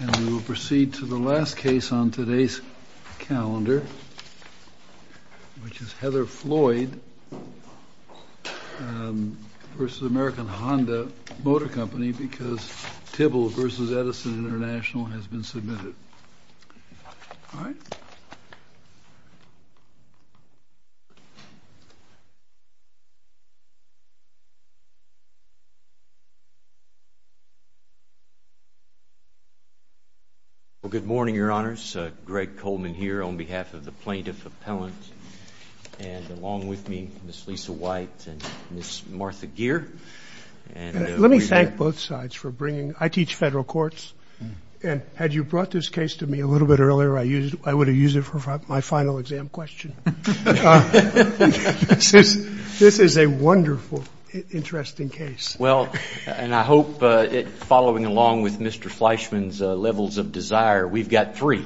And we will proceed to the last case on today's calendar, which is Heather Floyd v. American Honda Motor Co., because Tybill v. Edison International has been submitted. All right? Well, good morning, Your Honors. Greg Coleman here on behalf of the plaintiff appellant, and along with me, Ms. Lisa White and Ms. Martha Gere. Let me thank both sides for bringing – I teach federal courts. And had you brought this case to me a little bit earlier, I would have used it for my final exam question. This is a wonderful, interesting case. Well, and I hope, following along with Mr. Fleischman's levels of desire, we've got three.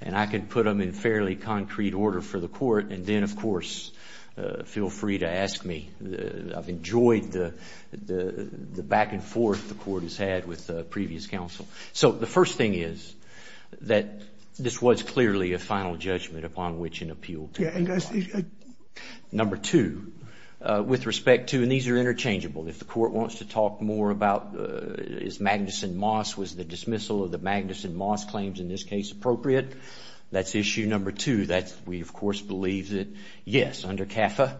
And I can put them in fairly concrete order for the court. And then, of course, feel free to ask me. I've enjoyed the back-and-forth the court has had with previous counsel. So the first thing is that this was clearly a final judgment upon which an appeal can be filed. Number two, with respect to – and these are interchangeable. If the court wants to talk more about is Magnuson-Moss – was the dismissal of the Magnuson-Moss claims in this case appropriate? That's issue number two. We, of course, believe that, yes, under CAFA,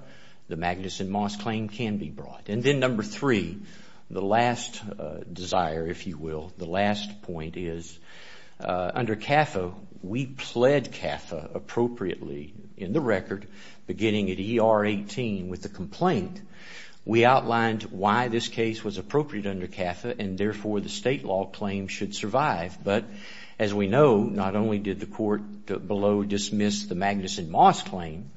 the Magnuson-Moss claim can be brought. And then number three, the last desire, if you will, the last point is, under CAFA, we pled CAFA appropriately in the record, beginning at E.R. 18 with the complaint. We outlined why this case was appropriate under CAFA and, therefore, the state law claim should survive. But, as we know, not only did the court below dismiss the Magnuson-Moss claim,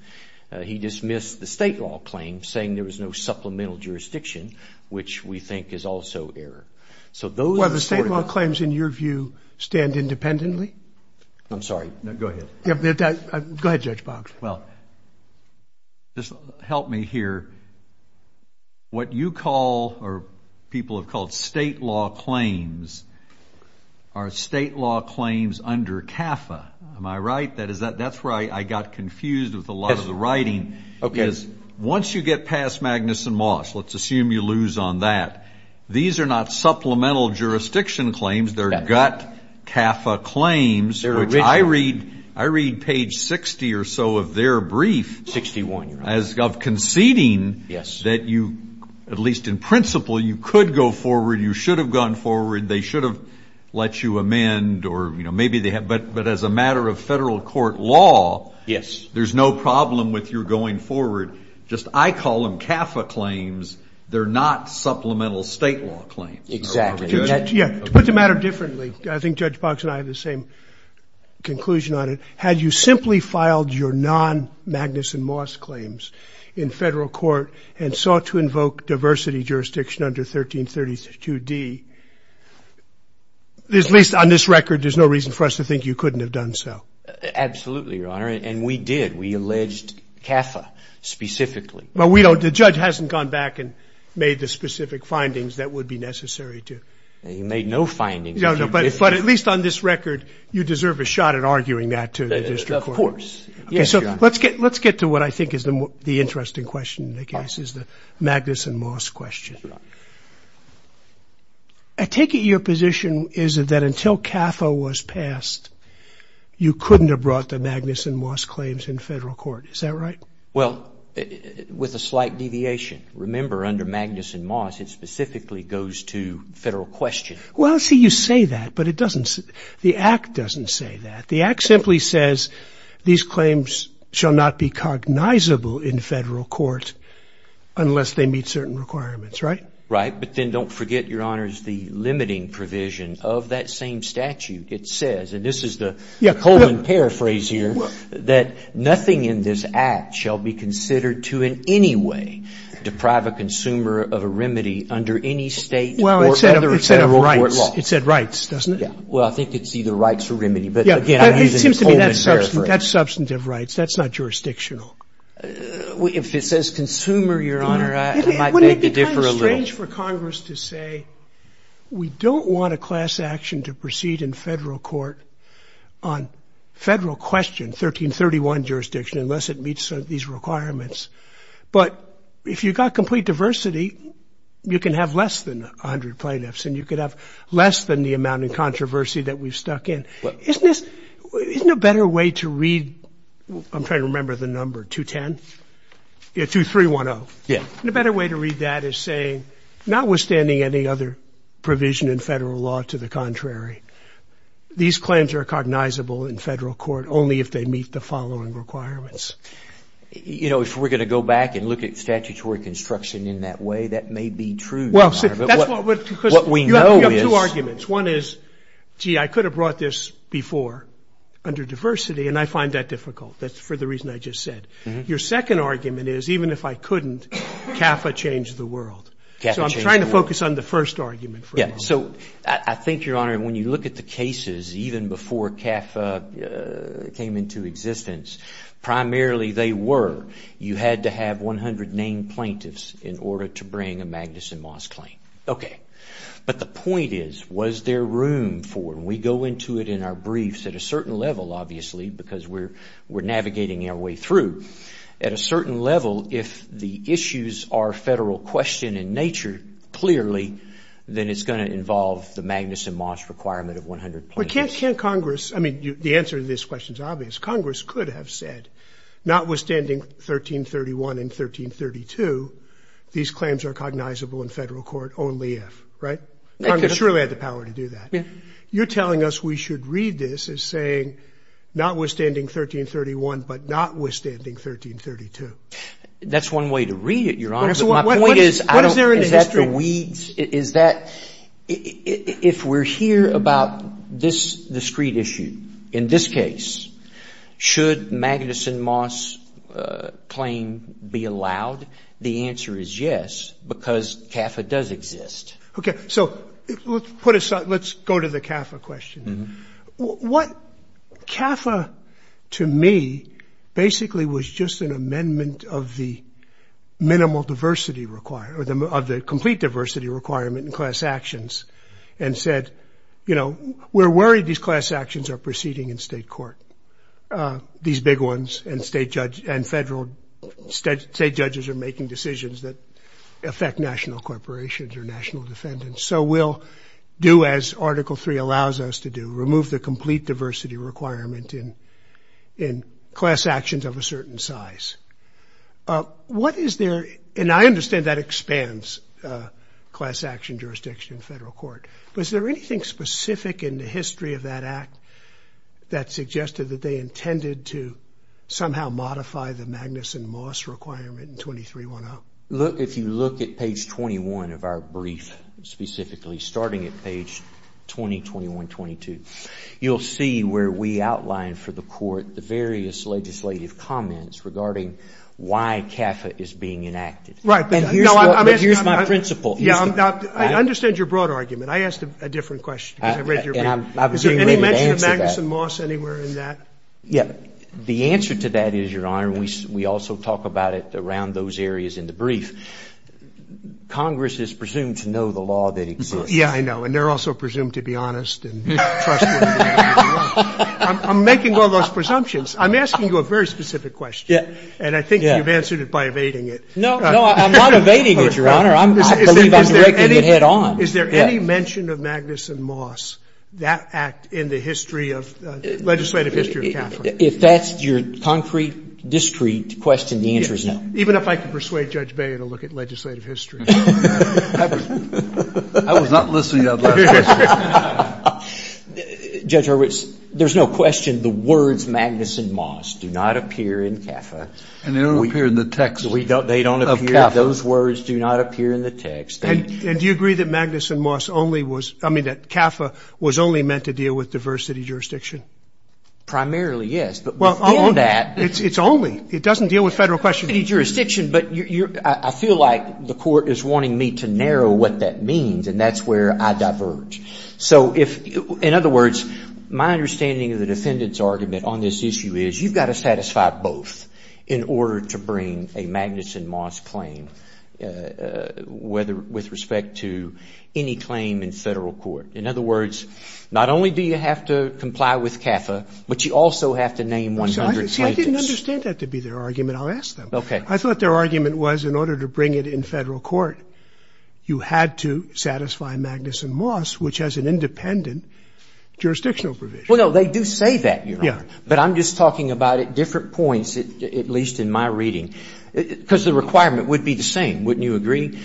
he dismissed the state law claim, saying there was no supplemental jurisdiction, which we think is also error. So those are the sort of – Well, the state law claims, in your view, stand independently? I'm sorry. No, go ahead. Go ahead, Judge Box. Well, just help me here. What you call or people have called state law claims are state law claims under CAFA. Am I right? That's where I got confused with a lot of the writing. Okay. Because once you get past Magnuson-Moss, let's assume you lose on that, these are not supplemental jurisdiction claims. They're gut CAFA claims, which I read page 60 or so of their brief. Sixty-one, you're right. As of conceding that you, at least in principle, you could go forward, you should have gone forward, they should have let you amend, but as a matter of federal court law, there's no problem with your going forward. Just I call them CAFA claims. They're not supplemental state law claims. Exactly. To put the matter differently, I think Judge Box and I have the same conclusion on it. Had you simply filed your non-Magnuson-Moss claims in federal court and sought to invoke diversity jurisdiction under 1332D, at least on this record, there's no reason for us to think you couldn't have done so. Absolutely, Your Honor, and we did. We alleged CAFA specifically. But the judge hasn't gone back and made the specific findings that would be necessary to. He made no findings. No, no, but at least on this record, you deserve a shot at arguing that to the district court. Of course. Okay, so let's get to what I think is the interesting question, I guess, is the Magnuson-Moss question. I take it your position is that until CAFA was passed, you couldn't have brought the Magnuson-Moss claims in federal court. Is that right? Well, with a slight deviation. Remember, under Magnuson-Moss, it specifically goes to federal question. Well, see, you say that, but the Act doesn't say that. The Act simply says these claims shall not be cognizable in federal court unless they meet certain requirements, right? Right, but then don't forget, Your Honors, the limiting provision of that same statute. It says, and this is the colon paraphrase here, that nothing in this Act shall be considered to in any way deprive a consumer of a remedy under any state or other federal law. It said rights, doesn't it? Yeah. Well, I think it's either rights or remedy, but again, I'm using the colon paraphrase. That's substantive rights. That's not jurisdictional. If it says consumer, Your Honor, it might differ a little. Wouldn't it be kind of strange for Congress to say we don't want a class action to proceed in federal court on federal question, 1331 jurisdiction, unless it meets these requirements? But if you've got complete diversity, you can have less than 100 plaintiffs, and you could have less than the amount of controversy that we've stuck in. Isn't this, isn't a better way to read, I'm trying to remember the number, 210? Yeah, 2310. Yeah. And a better way to read that is saying notwithstanding any other provision in federal law to the contrary, these claims are cognizable in federal court only if they meet the following requirements. You know, if we're going to go back and look at statutory construction in that way, that may be true, Your Honor. What we know is. You have two arguments. One is, gee, I could have brought this before under diversity, and I find that difficult. That's for the reason I just said. Your second argument is even if I couldn't, CAFA changed the world. So I'm trying to focus on the first argument for a moment. So I think, Your Honor, when you look at the cases, even before CAFA came into existence, primarily they were, you had to have 100 named plaintiffs in order to bring a Magnuson Moss claim. Okay. But the point is, was there room for it? And we go into it in our briefs at a certain level, obviously, because we're navigating our way through. At a certain level, if the issues are federal question in nature clearly, then it's going to involve the Magnuson Moss requirement of 100 plaintiffs. But can't Congress, I mean, the answer to this question is obvious. Congress could have said, notwithstanding 1331 and 1332, these claims are cognizable in federal court only if, right? Congress surely had the power to do that. You're telling us we should read this as saying, notwithstanding 1331, but notwithstanding 1332. That's one way to read it, Your Honor. My point is, is that the weeds? Is that, if we're here about this discrete issue, in this case, should Magnuson Moss claim be allowed? The answer is yes, because CAFA does exist. OK, so let's go to the CAFA question. What CAFA, to me, basically was just an amendment of the minimal diversity requirement, of the complete diversity requirement in class actions, and said, you know, we're worried these class actions are proceeding in state court, these big ones, and state judges are making decisions that affect national corporations or national defendants. So we'll do as Article 3 allows us to do, remove the complete diversity requirement in class actions of a certain size. What is there, and I understand that expands class action jurisdiction in federal court. Was there anything specific in the history of that act that suggested that they intended to somehow modify the Magnuson Moss requirement in 2310? Look, if you look at page 21 of our brief, specifically starting at page 20, 21, 22, you'll see where we outline for the court the various legislative comments regarding why CAFA is being enacted. Right. And here's my principle. Yeah, I understand your broad argument. I asked a different question because I read your brief. And I was being ready to answer that. Is there any mention of Magnuson Moss anywhere in that? Yeah. The answer to that is, Your Honor, we also talk about it around those areas in the brief. Congress is presumed to know the law that exists. Yeah, I know. And they're also presumed to be honest and trustworthy. I'm making all those presumptions. I'm asking you a very specific question. Yeah. No, no, I'm not evading it, Your Honor. I believe I'm directing it head on. Is there any mention of Magnuson Moss, that act, in the history of legislative history of CAFA? If that's your concrete, discreet question, the answer is no. Even if I could persuade Judge Bayer to look at legislative history. I was not listening to that last question. Judge Horowitz, there's no question the words Magnuson Moss do not appear in CAFA. And they don't appear in the text of CAFA. Those words do not appear in the text. And do you agree that Magnuson Moss only was, I mean, that CAFA was only meant to deal with diversity jurisdiction? Primarily, yes. But beyond that. It's only. It doesn't deal with federal question. It's only jurisdiction, but I feel like the court is wanting me to narrow what that means, and that's where I diverge. So if, in other words, my understanding of the defendant's argument on this issue is you've got to satisfy both in order to bring a Magnuson Moss claim with respect to any claim in federal court. In other words, not only do you have to comply with CAFA, but you also have to name 100 plaintiffs. See, I didn't understand that to be their argument. I'll ask them. Okay. I thought their argument was in order to bring it in federal court, you had to satisfy Magnuson Moss, which has an independent jurisdictional provision. Well, no, they do say that, Your Honor. Yeah. But I'm just talking about at different points, at least in my reading, because the requirement would be the same. Wouldn't you agree?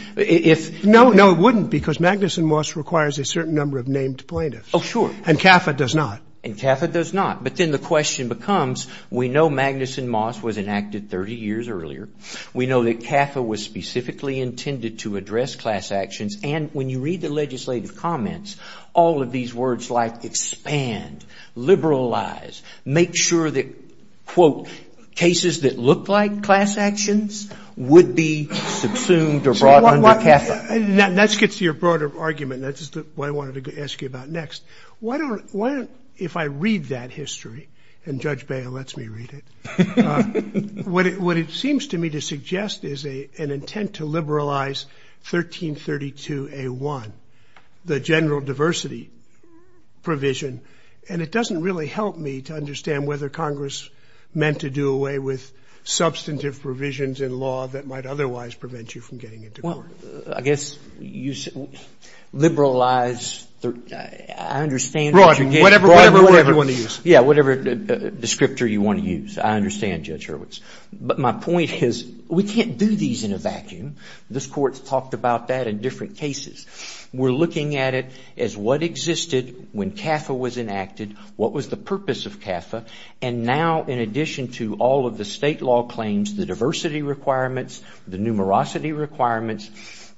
No, no, it wouldn't, because Magnuson Moss requires a certain number of named plaintiffs. Oh, sure. And CAFA does not. And CAFA does not. But then the question becomes, we know Magnuson Moss was enacted 30 years earlier. We know that CAFA was specifically intended to address class actions. And when you read the legislative comments, all of these words like expand, liberalize, make sure that, quote, cases that look like class actions would be subsumed or brought under CAFA. Now, that gets to your broader argument. That's what I wanted to ask you about next. Why don't, if I read that history, and Judge Boehner lets me read it, what it seems to me to suggest is an intent to liberalize 1332A1, the general diversity provision. And it doesn't really help me to understand whether Congress meant to do away with substantive provisions in law that might otherwise prevent you from getting into court. Well, I guess liberalize, I understand. Whatever word you want to use. Yeah, whatever descriptor you want to use. I understand, Judge Hurwitz. But my point is, we can't do these in a vacuum. This Court's talked about that in different cases. We're looking at it as what existed when CAFA was enacted, what was the purpose of CAFA, and now in addition to all of the state law claims, the diversity requirements, the numerosity requirements,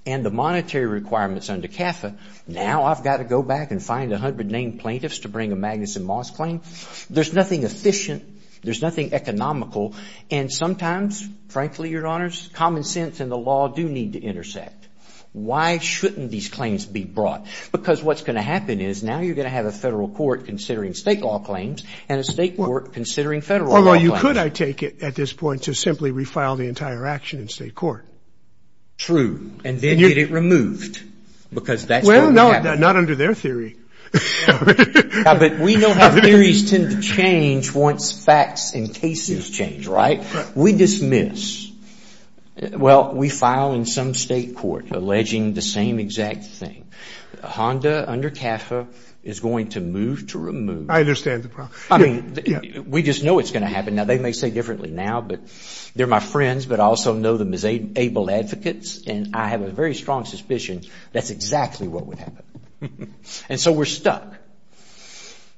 and the monetary requirements under CAFA, now I've got to go back and find 100 named plaintiffs to bring a Magnuson Moss claim? There's nothing efficient. There's nothing economical. And sometimes, frankly, Your Honors, common sense and the law do need to intersect. Why shouldn't these claims be brought? Because what's going to happen is now you're going to have a federal court considering state law claims and a state court considering federal law claims. Although you could, I take it, at this point, to simply refile the entire action in state court. True. And then get it removed because that's what would happen. Well, no, not under their theory. But we know how theories tend to change once facts and cases change, right? Right. We dismiss. Well, we file in some state court alleging the same exact thing. HONDA under CAFA is going to move to remove. I understand the problem. I mean, we just know it's going to happen. Now, they may say differently now, but they're my friends, but I also know them as able advocates, and I have a very strong suspicion that's exactly what would happen. And so we're stuck.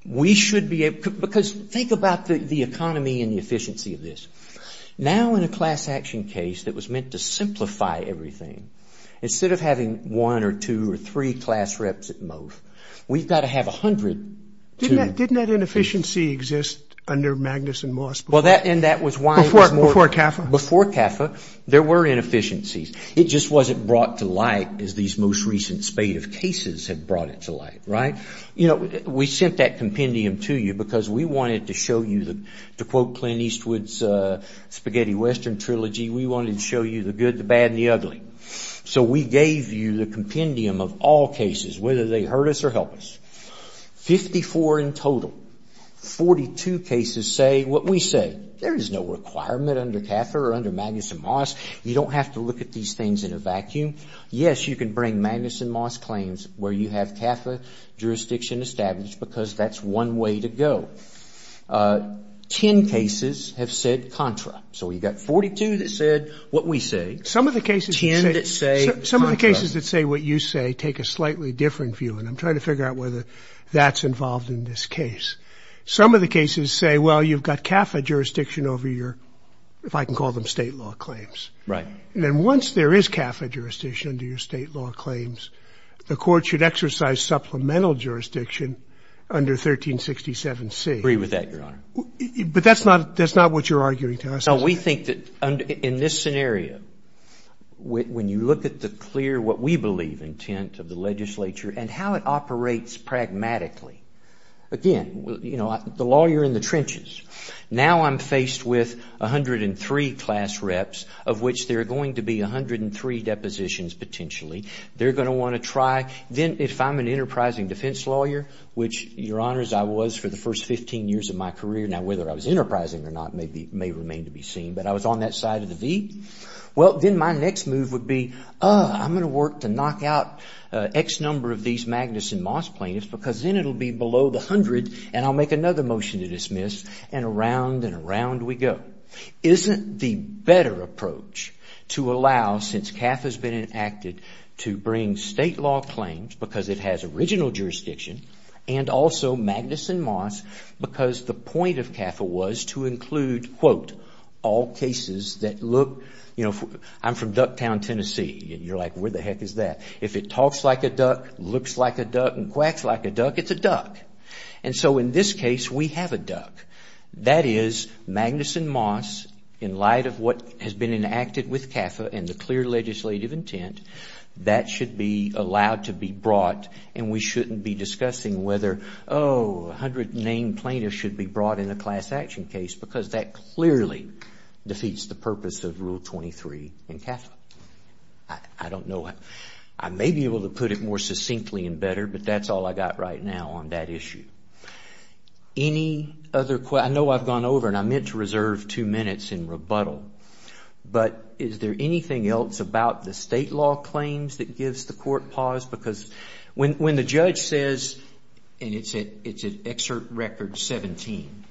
We should be able to, because think about the economy and the efficiency of this. Now in a class action case that was meant to simplify everything, instead of having one or two or three class reps at most, we've got to have 100 to. Didn't that inefficiency exist under Magnus and Moss before? Well, and that was why it was more. Before CAFA? Before CAFA, there were inefficiencies. It just wasn't brought to light as these most recent spate of cases had brought it to light, right? You know, we sent that compendium to you because we wanted to show you, to quote Clint Eastwood's Spaghetti Western trilogy, we wanted to show you the good, the bad, and the ugly. So we gave you the compendium of all cases, whether they hurt us or help us. Fifty-four in total. Forty-two cases say what we say. There is no requirement under CAFA or under Magnus and Moss. You don't have to look at these things in a vacuum. Yes, you can bring Magnus and Moss claims where you have CAFA jurisdiction established because that's one way to go. Ten cases have said contra. So we've got 42 that said what we say. Some of the cases that say what you say take a slightly different view, and I'm trying to figure out whether that's involved in this case. Some of the cases say, well, you've got CAFA jurisdiction over your, if I can call them state law claims. Right. And then once there is CAFA jurisdiction under your state law claims, the court should exercise supplemental jurisdiction under 1367C. I agree with that, Your Honor. But that's not what you're arguing to us. No, we think that in this scenario, when you look at the clear what we believe intent of the legislature and how it operates pragmatically, again, you know, the law, you're in the trenches. Now I'm faced with 103 class reps of which there are going to be 103 depositions potentially. They're going to want to try. Then if I'm an enterprising defense lawyer, which, Your Honors, I was for the first 15 years of my career. Now, whether I was enterprising or not may remain to be seen. But I was on that side of the V. Well, then my next move would be, oh, I'm going to work to knock out X number of these Magnus and Moss plaintiffs and around and around we go. Isn't the better approach to allow, since CAFA has been enacted, to bring state law claims because it has original jurisdiction and also Magnus and Moss because the point of CAFA was to include, quote, all cases that look, you know, I'm from Ducktown, Tennessee, and you're like, where the heck is that? If it talks like a duck, looks like a duck, and quacks like a duck, it's a duck. And so in this case, we have a duck. That is, Magnus and Moss, in light of what has been enacted with CAFA and the clear legislative intent, that should be allowed to be brought and we shouldn't be discussing whether, oh, a hundred named plaintiffs should be brought in a class action case because that clearly defeats the purpose of Rule 23 in CAFA. I don't know. I may be able to put it more succinctly and better, but that's all I got right now on that issue. Any other questions? I know I've gone over and I meant to reserve two minutes in rebuttal, but is there anything else about the state law claims that gives the court pause? Because when the judge says, and it's at Excerpt Record 17,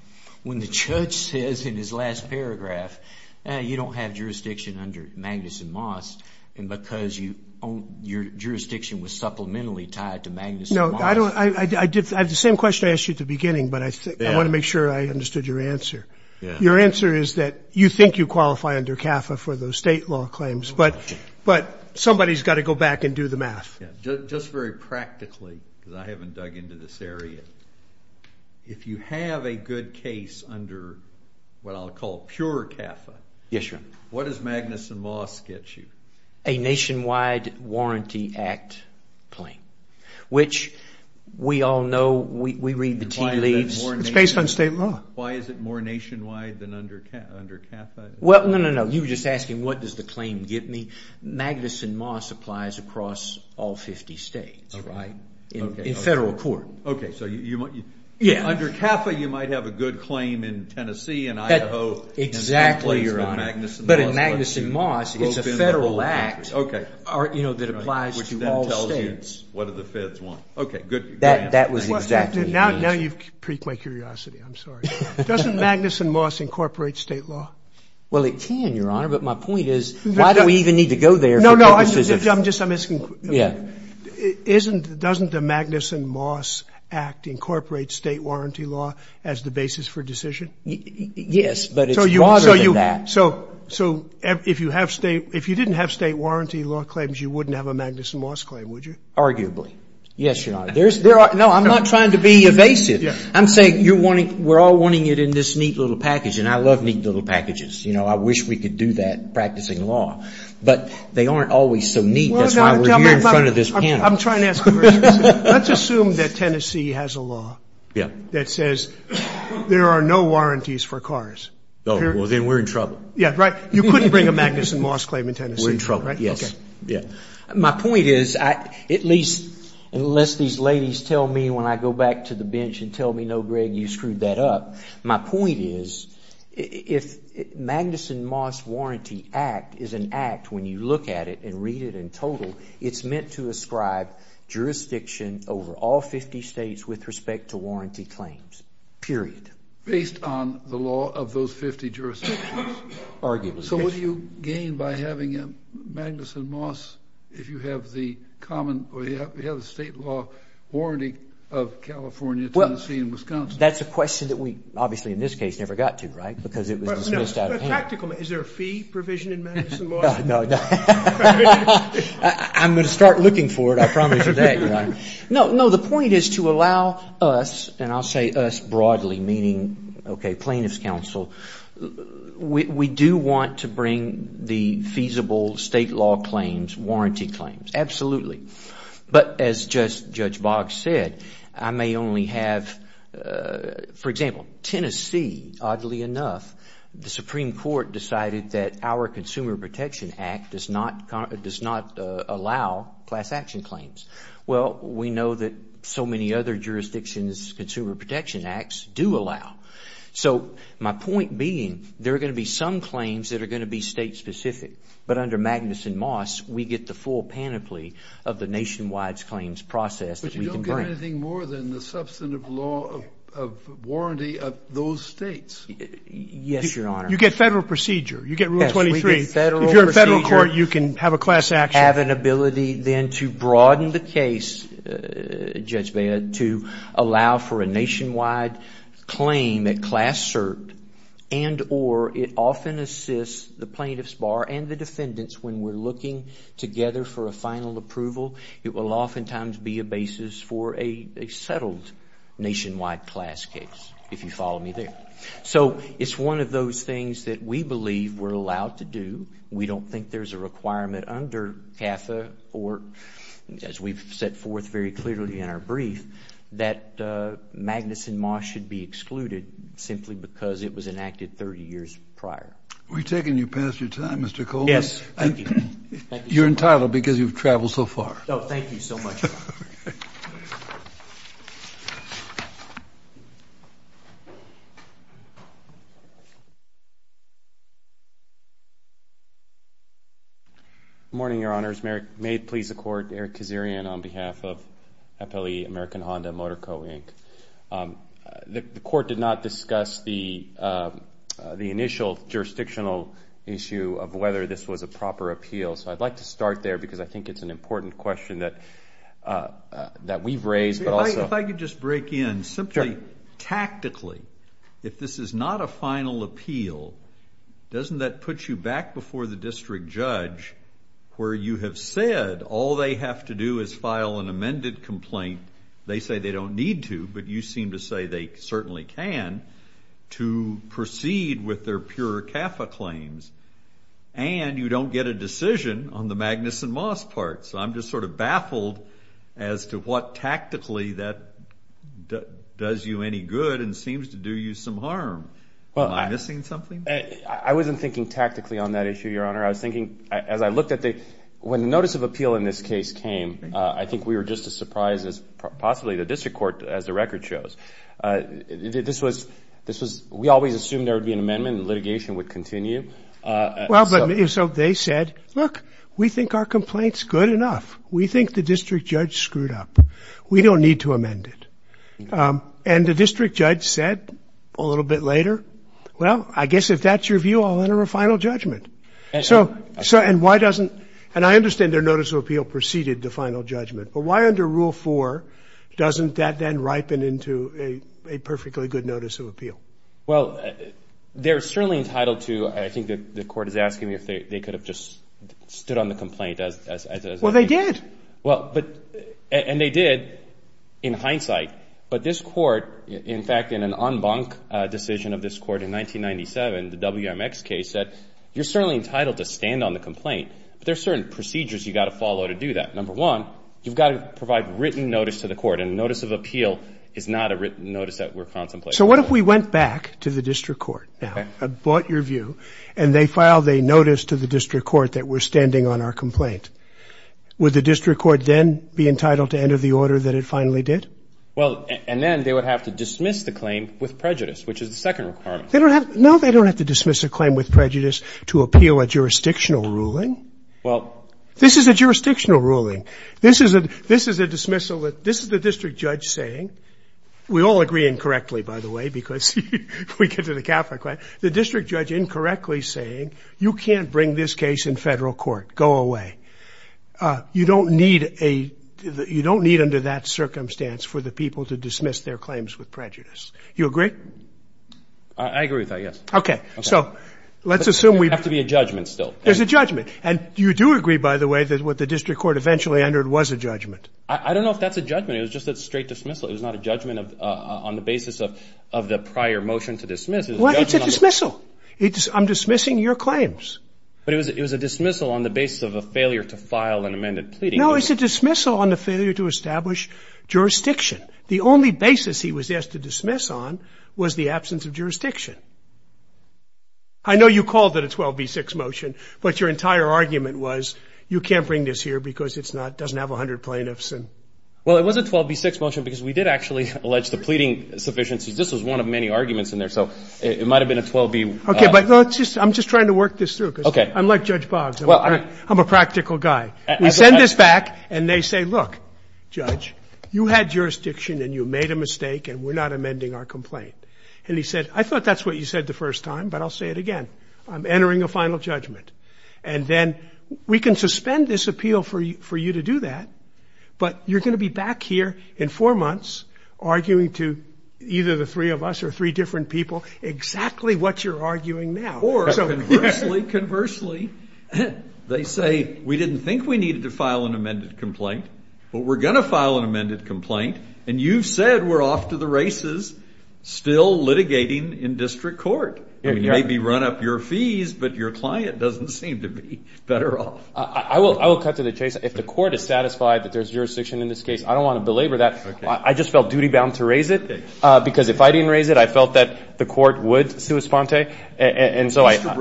when the judge says in his last paragraph, you don't have jurisdiction under Magnus and Moss and because your jurisdiction was supplementary tied to Magnus and Moss. I have the same question I asked you at the beginning, but I want to make sure I understood your answer. Your answer is that you think you qualify under CAFA for those state law claims, but somebody's got to go back and do the math. Just very practically, because I haven't dug into this area, if you have a good case under what I'll call pure CAFA, What does Magnus and Moss get you? A Nationwide Warranty Act claim, which we all know, we read the tea leaves. It's based on state law. Why is it more nationwide than under CAFA? Well, no, no, no. You were just asking what does the claim give me. Magnus and Moss applies across all 50 states in federal court. Okay, so under CAFA you might have a good claim in Tennessee and Idaho. Exactly, Your Honor. But in Magnus and Moss, it's a federal act that applies to all states. Which then tells you what do the feds want. Okay, good. That was exactly it. Now you've piqued my curiosity. I'm sorry. Doesn't Magnus and Moss incorporate state law? Well, it can, Your Honor, but my point is why do we even need to go there? No, no. I'm just asking. Yeah. Doesn't the Magnus and Moss Act incorporate state warranty law as the basis for decision? Yes, but it's broader than that. So if you didn't have state warranty law claims, you wouldn't have a Magnus and Moss claim, would you? Arguably. Yes, Your Honor. No, I'm not trying to be evasive. I'm saying we're all wanting it in this neat little package, and I love neat little packages. You know, I wish we could do that practicing law. But they aren't always so neat. That's why we're here in front of this panel. I'm trying to ask a very specific question. Let's assume that Tennessee has a law. Yeah. That says there are no warranties for cars. Oh, well, then we're in trouble. Yeah, right. You couldn't bring a Magnus and Moss claim in Tennessee, right? We're in trouble, yes. Okay. Yeah. My point is, at least unless these ladies tell me when I go back to the bench and tell me, no, Greg, you screwed that up, my point is if Magnus and Moss Warranty Act is an act when you look at it and read it in total, it's meant to ascribe jurisdiction over all 50 states with respect to warranty claims, period. Based on the law of those 50 jurisdictions? Arguably, yes. So what do you gain by having Magnus and Moss if you have the state law warranty of California, Tennessee, and Wisconsin? That's a question that we obviously in this case never got to, right? Because it was dismissed out of hand. But tactically, is there a fee provision in Magnus and Moss? No, no, no. I'm going to start looking for it. I promise you that, Your Honor. No, no. The point is to allow us, and I'll say us broadly, meaning, okay, plaintiff's counsel, we do want to bring the feasible state law claims, warranty claims. Absolutely. But as just Judge Boggs said, I may only have, for example, Tennessee, oddly enough, the Supreme Court decided that our Consumer Protection Act does not allow class action claims. Well, we know that so many other jurisdictions' Consumer Protection Acts do allow. So my point being, there are going to be some claims that are going to be state specific. But under Magnus and Moss, we get the full panoply of the nationwide claims process that we can bring. But you don't get anything more than the substantive law of warranty of those states. Yes, Your Honor. You get federal procedure. Yes, we get federal procedure. If you're a federal court, you can have a class action. Have an ability then to broaden the case, Judge Baya, to allow for a nationwide claim at class cert and or it often assists the plaintiff's bar and the defendant's when we're looking together for a final approval. It will oftentimes be a basis for a settled nationwide class case, if you follow me there. So it's one of those things that we believe we're allowed to do. We don't think there's a requirement under CAFA or as we've set forth very clearly in our brief, that Magnus and Moss should be excluded simply because it was enacted 30 years prior. We've taken you past your time, Mr. Coleman. Yes. Thank you. You're entitled because you've traveled so far. Oh, thank you so much. Okay. Good morning, Your Honors. May it please the Court, Eric Kazarian on behalf of FLE, American Honda, Motor Co., Inc. The Court did not discuss the initial jurisdictional issue of whether this was a proper appeal. So I'd like to start there because I think it's an important question that we've raised. If I could just break in simply tactically, if this is not a final appeal, doesn't that put you back before the district judge where you have said all they have to do is file an amended complaint? They say they don't need to, but you seem to say they certainly can to proceed with their pure CAFA claims, and you don't get a decision on the Magnus and Moss part. So I'm just sort of baffled as to what tactically that does you any good and seems to do you some harm. Am I missing something? I wasn't thinking tactically on that issue, Your Honor. I was thinking as I looked at the ñ when the notice of appeal in this case came, I think we were just as surprised as possibly the district court as the record shows. This was ñ we always assumed there would be an amendment and litigation would continue. Well, so they said, look, we think our complaint's good enough. We think the district judge screwed up. We don't need to amend it. And the district judge said a little bit later, well, I guess if that's your view, I'll enter a final judgment. So ñ and why doesn't ñ and I understand their notice of appeal preceded the final judgment, but why under Rule 4 doesn't that then ripen into a perfectly good notice of appeal? Well, they're certainly entitled to ñ I think the court is asking me if they could have just stood on the complaint. Well, they did. Well, but ñ and they did in hindsight. But this court, in fact, in an en banc decision of this court in 1997, the WMX case, said you're certainly entitled to stand on the complaint, but there are certain procedures you've got to follow to do that. Number one, you've got to provide written notice to the court, and a notice of appeal is not a written notice that we're contemplating. So what if we went back to the district court now, bought your view, and they filed a notice to the district court that we're standing on our complaint? Would the district court then be entitled to enter the order that it finally did? Well, and then they would have to dismiss the claim with prejudice, which is the second requirement. They don't have ñ no, they don't have to dismiss a claim with prejudice to appeal a jurisdictional ruling. Well ñ This is a jurisdictional ruling. This is a ñ this is a dismissal that ñ this is the district judge saying ñ we all agree incorrectly, by the way, because if we get to the capital claim ñ the district judge incorrectly saying you can't bring this case in Federal court. Go away. You don't need a ñ you don't need under that circumstance for the people to dismiss their claims with prejudice. You agree? I agree with that, yes. Okay. So let's assume we ñ There has to be a judgment still. There's a judgment. And you do agree, by the way, that what the district court eventually entered was a judgment. I don't know if that's a judgment. It was just a straight dismissal. It was not a judgment of ñ on the basis of the prior motion to dismiss. Well, it's a dismissal. It's ñ I'm dismissing your claims. But it was ñ it was a dismissal on the basis of a failure to file an amended pleading. No, it's a dismissal on the failure to establish jurisdiction. The only basis he was asked to dismiss on was the absence of jurisdiction. I know you called it a 12b-6 motion, but your entire argument was you can't bring this here because it's not ñ doesn't have 100 plaintiffs and ñ Well, it was a 12b-6 motion because we did actually allege the pleading sufficiencies. This was one of many arguments in there. So it might have been a 12b. Okay. But let's just ñ I'm just trying to work this through. Okay. Because I'm like Judge Boggs. I'm a practical guy. We send this back, and they say, look, Judge, you had jurisdiction, and you made a mistake, and we're not amending our complaint. And he said, I thought that's what you said the first time, but I'll say it again. I'm entering a final judgment. And then we can suspend this appeal for you to do that, but you're going to be back here in four months arguing to either the three of us or three different people exactly what you're arguing now. Or conversely, conversely, they say, we didn't think we needed to file an amended complaint, but we're going to file an amended complaint, and you've said we're off to the races, still litigating in district court. Maybe run up your fees, but your client doesn't seem to be better off. I will cut to the chase. If the court is satisfied that there's jurisdiction in this case, I don't want to belabor that. I just felt duty-bound to raise it because if I didn't raise it, I felt that the court would sui sponte. And so I have.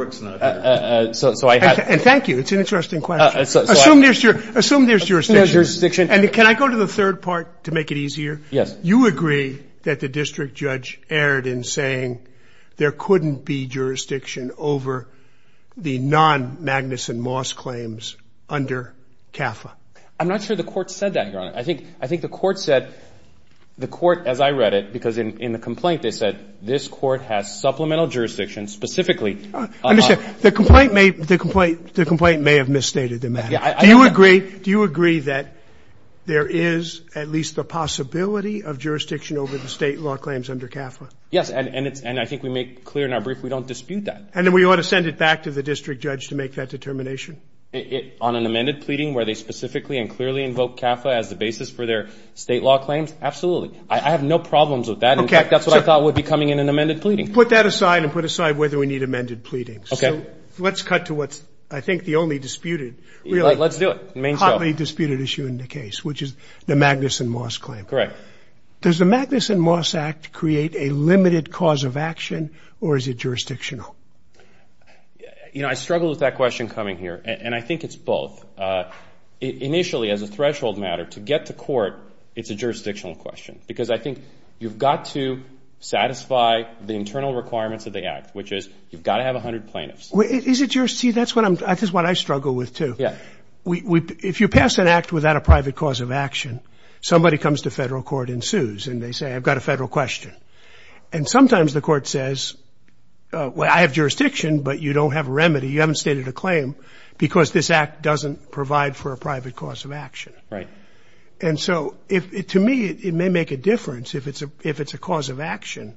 And thank you. It's an interesting question. Assume there's jurisdiction. Assume there's jurisdiction. And can I go to the third part to make it easier? Yes. You agree that the district judge erred in saying there couldn't be jurisdiction over the non-Magnuson Moss claims under CAFA. I'm not sure the court said that, Your Honor. I think the court said, the court, as I read it, because in the complaint they said, this court has supplemental jurisdiction specifically. I understand. The complaint may have misstated the matter. Do you agree that there is at least the possibility of jurisdiction over the State law claims under CAFA? Yes. And I think we make clear in our brief we don't dispute that. And then we ought to send it back to the district judge to make that determination? On an amended pleading where they specifically and clearly invoke CAFA as the basis for their State law claims? Absolutely. I have no problems with that. In fact, that's what I thought would be coming in an amended pleading. Put that aside and put aside whether we need amended pleadings. Okay. Let's cut to what's I think the only disputed. Let's do it. The hotly disputed issue in the case, which is the Magnuson Moss claim. Correct. Does the Magnuson Moss Act create a limited cause of action or is it jurisdictional? You know, I struggle with that question coming here. And I think it's both. Initially, as a threshold matter, to get to court, it's a jurisdictional question. Because I think you've got to satisfy the internal requirements of the Act, which is you've got to have 100 plaintiffs. Is it jurisdictional? See, that's what I struggle with, too. Yeah. If you pass an Act without a private cause of action, somebody comes to federal court and sues. And they say, I've got a federal question. And sometimes the court says, well, I have jurisdiction, but you don't have a remedy. You haven't stated a claim because this Act doesn't provide for a private cause of action. Right. And so, to me, it may make a difference if it's a cause of action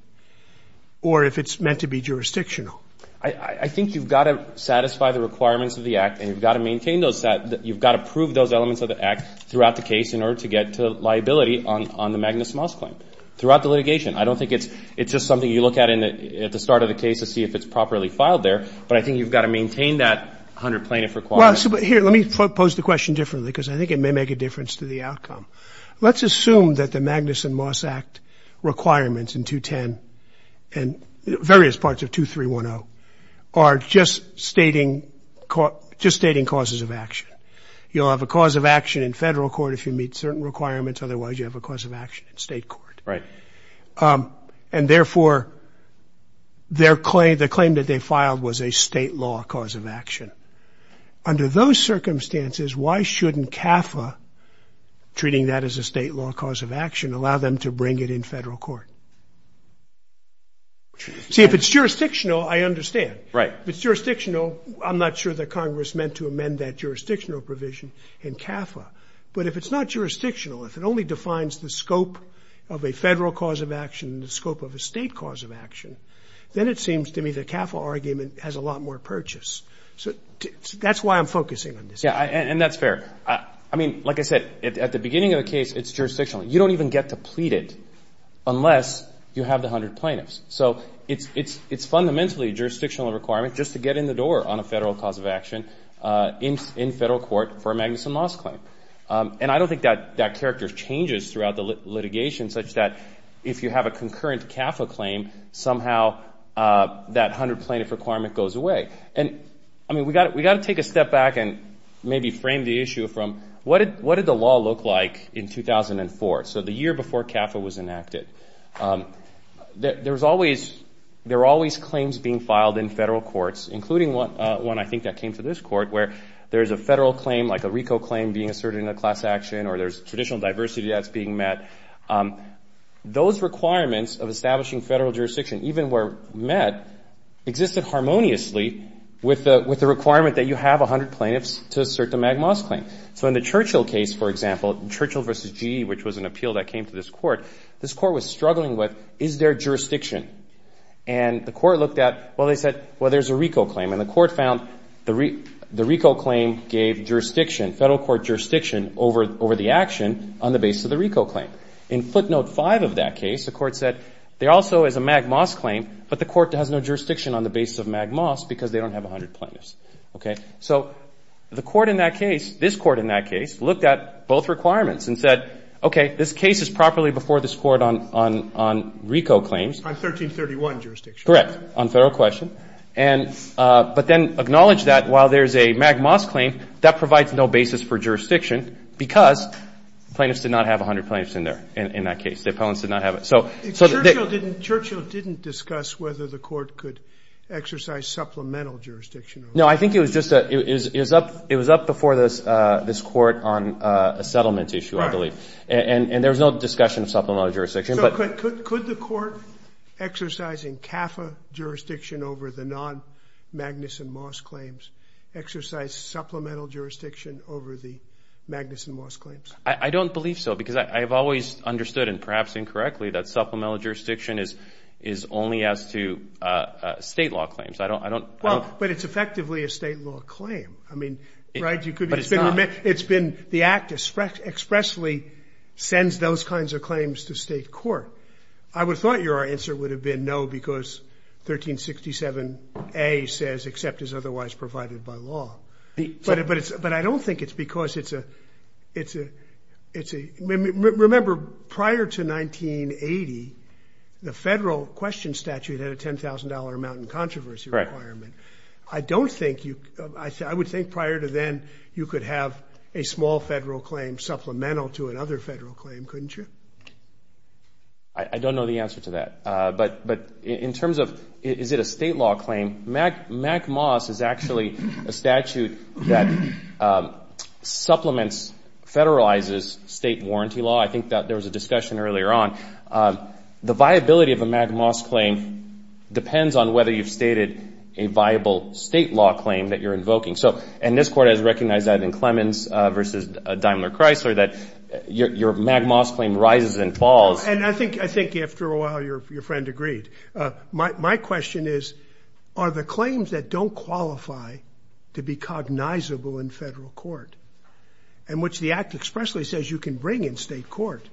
or if it's meant to be jurisdictional. I think you've got to satisfy the requirements of the Act, and you've got to maintain those. You've got to prove those elements of the Act throughout the case in order to get to liability on the Magnuson Moss claim. Throughout the litigation. I don't think it's just something you look at at the start of the case to see if it's properly filed there. But I think you've got to maintain that 100 plaintiff requirement. Well, here, let me pose the question differently because I think it may make a difference to the outcome. Let's assume that the Magnuson Moss Act requirements in 210 and various parts of 2310 are just stating causes of action. You'll have a cause of action in federal court if you meet certain requirements. Otherwise, you have a cause of action in state court. Right. And, therefore, the claim that they filed was a state law cause of action. Under those circumstances, why shouldn't CAFA, treating that as a state law cause of action, allow them to bring it in federal court? See, if it's jurisdictional, I understand. Right. If it's jurisdictional, I'm not sure that Congress meant to amend that jurisdictional provision in CAFA. But if it's not jurisdictional, if it only defines the scope of a federal cause of action and the scope of a state cause of action, then it seems to me the CAFA argument has a lot more purchase. So that's why I'm focusing on this. Yeah. And that's fair. I mean, like I said, at the beginning of the case, it's jurisdictional. You don't even get to plead it unless you have the 100 plaintiffs. So it's fundamentally a jurisdictional requirement just to get in the door on a federal cause of action in federal court for a magnuson loss claim. And I don't think that character changes throughout the litigation such that if you have a concurrent CAFA claim, somehow that 100 plaintiff requirement goes away. And, I mean, we've got to take a step back and maybe frame the issue from what did the law look like in 2004? So the year before CAFA was enacted. There were always claims being filed in federal courts, including one I think that came to this court, where there's a federal claim like a RICO claim being asserted in a class action or there's traditional diversity that's being met. Those requirements of establishing federal jurisdiction, even where met, existed harmoniously with the requirement that you have 100 plaintiffs to assert the magnuson claim. So in the Churchill case, for example, Churchill v. G, which was an appeal that came to this court, this court was struggling with, is there jurisdiction? And the court looked at, well, they said, well, there's a RICO claim. And the court found the RICO claim gave jurisdiction, federal court jurisdiction, over the action on the basis of the RICO claim. In footnote 5 of that case, the court said there also is a magnuson claim, but the court has no jurisdiction on the basis of magnuson because they don't have 100 plaintiffs. Okay. So the court in that case, this court in that case, looked at both requirements and said, okay, this case is properly before this court on RICO claims. On 1331 jurisdiction. Correct. On federal question. And but then acknowledge that while there's a magnuson claim, that provides no basis for jurisdiction because plaintiffs did not have 100 plaintiffs in there, in that case. The appellants did not have it. So Churchill didn't discuss whether the court could exercise supplemental jurisdiction. No, I think it was just that it was up before this court on a settlement issue, I believe. And there was no discussion of supplemental jurisdiction. So could the court exercising CAFA jurisdiction over the non-magnuson Moss claims exercise supplemental jurisdiction over the magnuson Moss claims? I don't believe so because I have always understood, and perhaps incorrectly, that supplemental jurisdiction is only as to state law claims. I don't. Well, but it's effectively a state law claim. I mean, right? But it's not. It's been the act expressly sends those kinds of claims to state court. I would have thought your answer would have been no because 1367A says except as otherwise provided by law. But I don't think it's because it's a. Remember, prior to 1980, the federal question statute had a $10,000 amount in controversy requirement. Correct. I don't think you. I would think prior to then you could have a small federal claim supplemental to another federal claim, couldn't you? I don't know the answer to that. But in terms of is it a state law claim, magnuson Moss is actually a statute that supplements federalizes state warranty law. I think that there was a discussion earlier on. The viability of a magnuson Moss claim depends on whether you've stated a viable state law claim that you're invoking. So and this court has recognized that in Clemens versus Daimler Chrysler that your magnuson Moss claim rises and falls. And I think I think after a while, your friend agreed. My question is, are the claims that don't qualify to be cognizable in federal court and which the act expressly says you can bring in state court?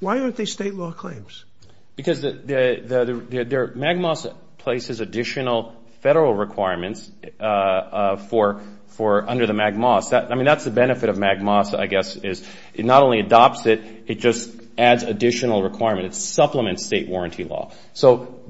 Why aren't they state law claims? Because the magnuson places additional federal requirements for four under the magnuson. I mean, that's the benefit of magnuson, I guess, is it not only adopts it. It just adds additional requirements. Supplements state warranty law. So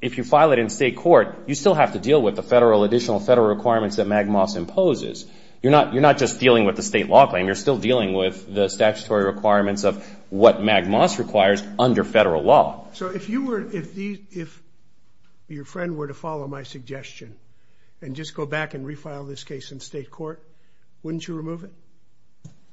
if you file it in state court, you still have to deal with the federal additional federal requirements that magnuson poses. You're not you're not just dealing with the state law claim. You're still dealing with the statutory requirements of what magnuson requires under federal law. So if you were if if your friend were to follow my suggestion and just go back and refile this case in state court, wouldn't you remove it?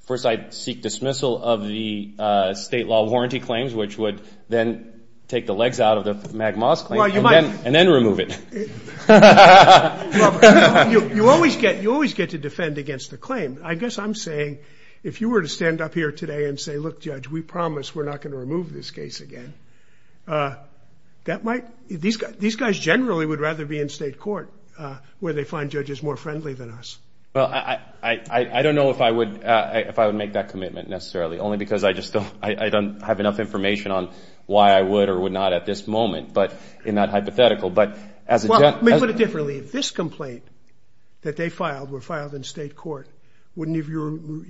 First, I seek dismissal of the state law warranty claims, which would then take the legs out of the magma's claim and then remove it. You always get you always get to defend against the claim. I guess I'm saying if you were to stand up here today and say, look, judge, we promise we're not going to remove this case again. That might these these guys generally would rather be in state court where they find judges more friendly than us. Well, I don't know if I would if I would make that commitment necessarily, only because I just don't I don't have enough information on why I would or would not at this moment. But in that hypothetical, but as well, we put it differently. This complaint that they filed were filed in state court. Wouldn't you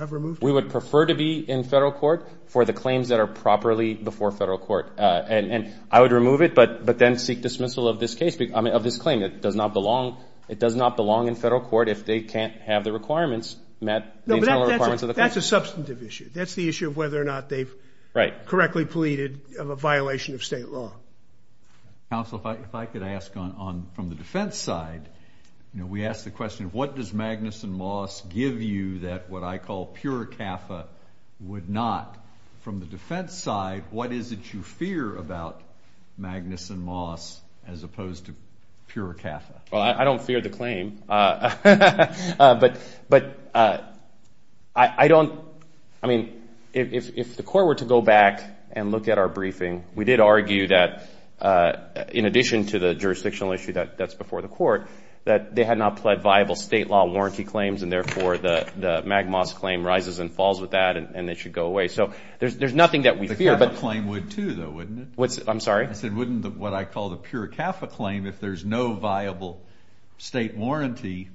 have removed? We would prefer to be in federal court for the claims that are properly before federal court. And I would remove it. But but then seek dismissal of this case of this claim that does not belong. It does not belong in federal court if they can't have the requirements met. That's a substantive issue. That's the issue of whether or not they've correctly pleaded of a violation of state law. Counsel, if I could ask on from the defense side, we ask the question, what does Magnuson Moss give you that what I call pure CAFA would not from the defense side? What is it you fear about Magnuson Moss as opposed to pure CAFA? Well, I don't fear the claim, but but I don't. I mean, if the court were to go back and look at our briefing, we did argue that in addition to the jurisdictional issue that that's before the court, that they had not pled viable state law warranty claims. And therefore, the Magnuson Moss claim rises and falls with that. And they should go away. So there's there's nothing that we fear. But claim would, too, though, wouldn't it? I'm sorry. I said, wouldn't what I call the pure CAFA claim, if there's no viable state warranty.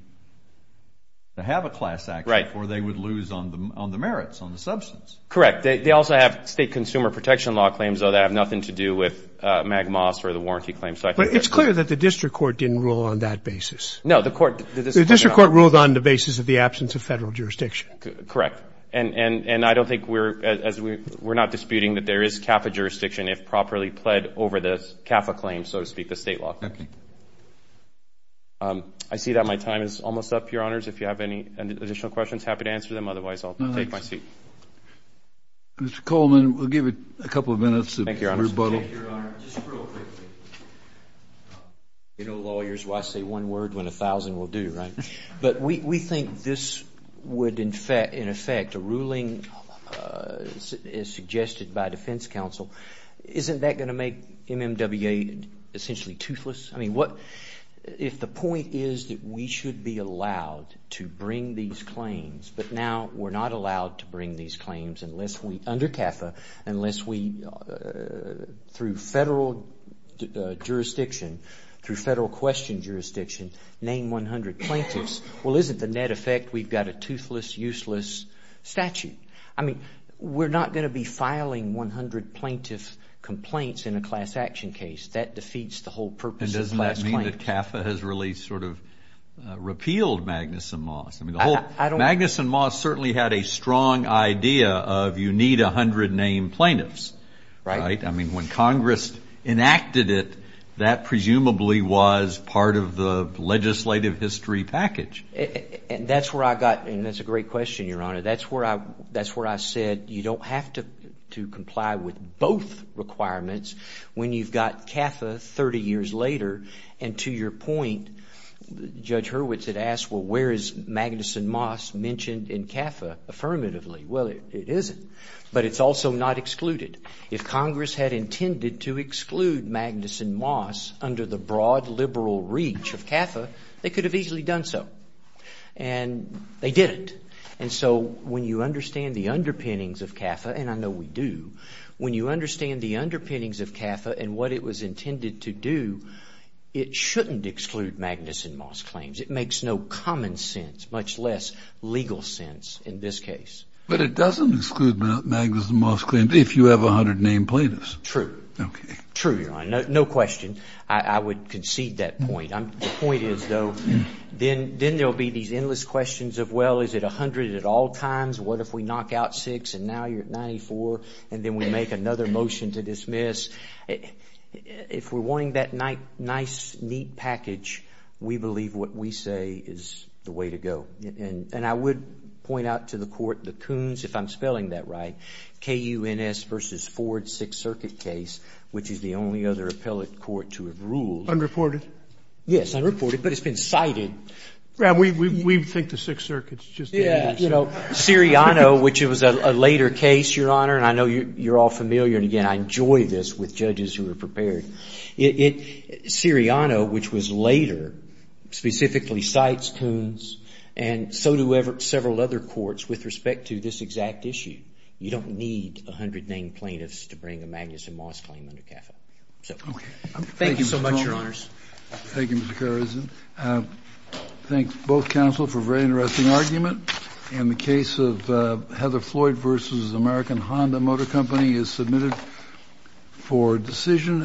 To have a class act, right. Or they would lose on the on the merits on the substance. Correct. They also have state consumer protection law claims, though, that have nothing to do with Magnuson Moss or the warranty claim. But it's clear that the district court didn't rule on that basis. No, the court. The district court ruled on the basis of the absence of federal jurisdiction. Correct. And I don't think we're as we're not disputing that there is CAFA jurisdiction if properly pled over the CAFA claim, so to speak, the state law. I see that my time is almost up, Your Honors. If you have any additional questions, happy to answer them. Otherwise, I'll take my seat. Mr. Coleman, we'll give it a couple of minutes. Thank you, Your Honor. Just real quickly. You know, lawyers, why say one word when a thousand will do, right? But we think this would, in effect, a ruling is suggested by defense counsel. Isn't that going to make MMWA essentially toothless? I mean, what if the point is that we should be allowed to bring these claims, but now we're not allowed to bring these claims unless we, under CAFA, unless we, through federal jurisdiction, through federal question jurisdiction, name 100 plaintiffs. Well, isn't the net effect we've got a toothless, useless statute? I mean, we're not going to be filing 100 plaintiff complaints in a class action case. That defeats the whole purpose of class claims. And doesn't that mean that CAFA has really sort of repealed Magnuson Moss? Magnuson Moss certainly had a strong idea of you need 100 name plaintiffs. Right. I mean, when Congress enacted it, that presumably was part of the legislative history package. And that's where I got, and that's a great question, Your Honor. That's where I said you don't have to comply with both requirements when you've got CAFA 30 years later. And to your point, Judge Hurwitz had asked, well, where is Magnuson Moss mentioned in CAFA affirmatively? Well, it isn't. But it's also not excluded. If Congress had intended to exclude Magnuson Moss under the broad liberal reach of CAFA, they could have easily done so. And they didn't. And so when you understand the underpinnings of CAFA, and I know we do, when you understand the underpinnings of CAFA and what it was intended to do, it shouldn't exclude Magnuson Moss claims. It makes no common sense, much less legal sense in this case. But it doesn't exclude Magnuson Moss claims if you have 100 name plaintiffs. True. Okay. True, Your Honor. No question. I would concede that point. The point is, though, then there will be these endless questions of, well, is it 100 at all times? What if we knock out six and now you're at 94, and then we make another motion to dismiss? If we're wanting that nice, neat package, we believe what we say is the way to go. And I would point out to the court the Coons, if I'm spelling that right, KUNS versus Ford Sixth Circuit case, which is the only other appellate court to have ruled. Unreported. Yes, unreported. But it's been cited. We think the Sixth Circuit's just the answer. You know, Siriano, which was a later case, Your Honor, and I know you're all familiar, and, again, I enjoy this with judges who are prepared. Siriano, which was later, specifically cites KUNS, and so do several other courts with respect to this exact issue. You don't need 100 name plaintiffs to bring a Magnuson Moss claim under CAFA. Okay. Thank you so much, Your Honors. Thank you, Mr. Carlson. I thank both counsel for a very interesting argument. In the case of Heather Floyd versus American Honda Motor Company is submitted for decision.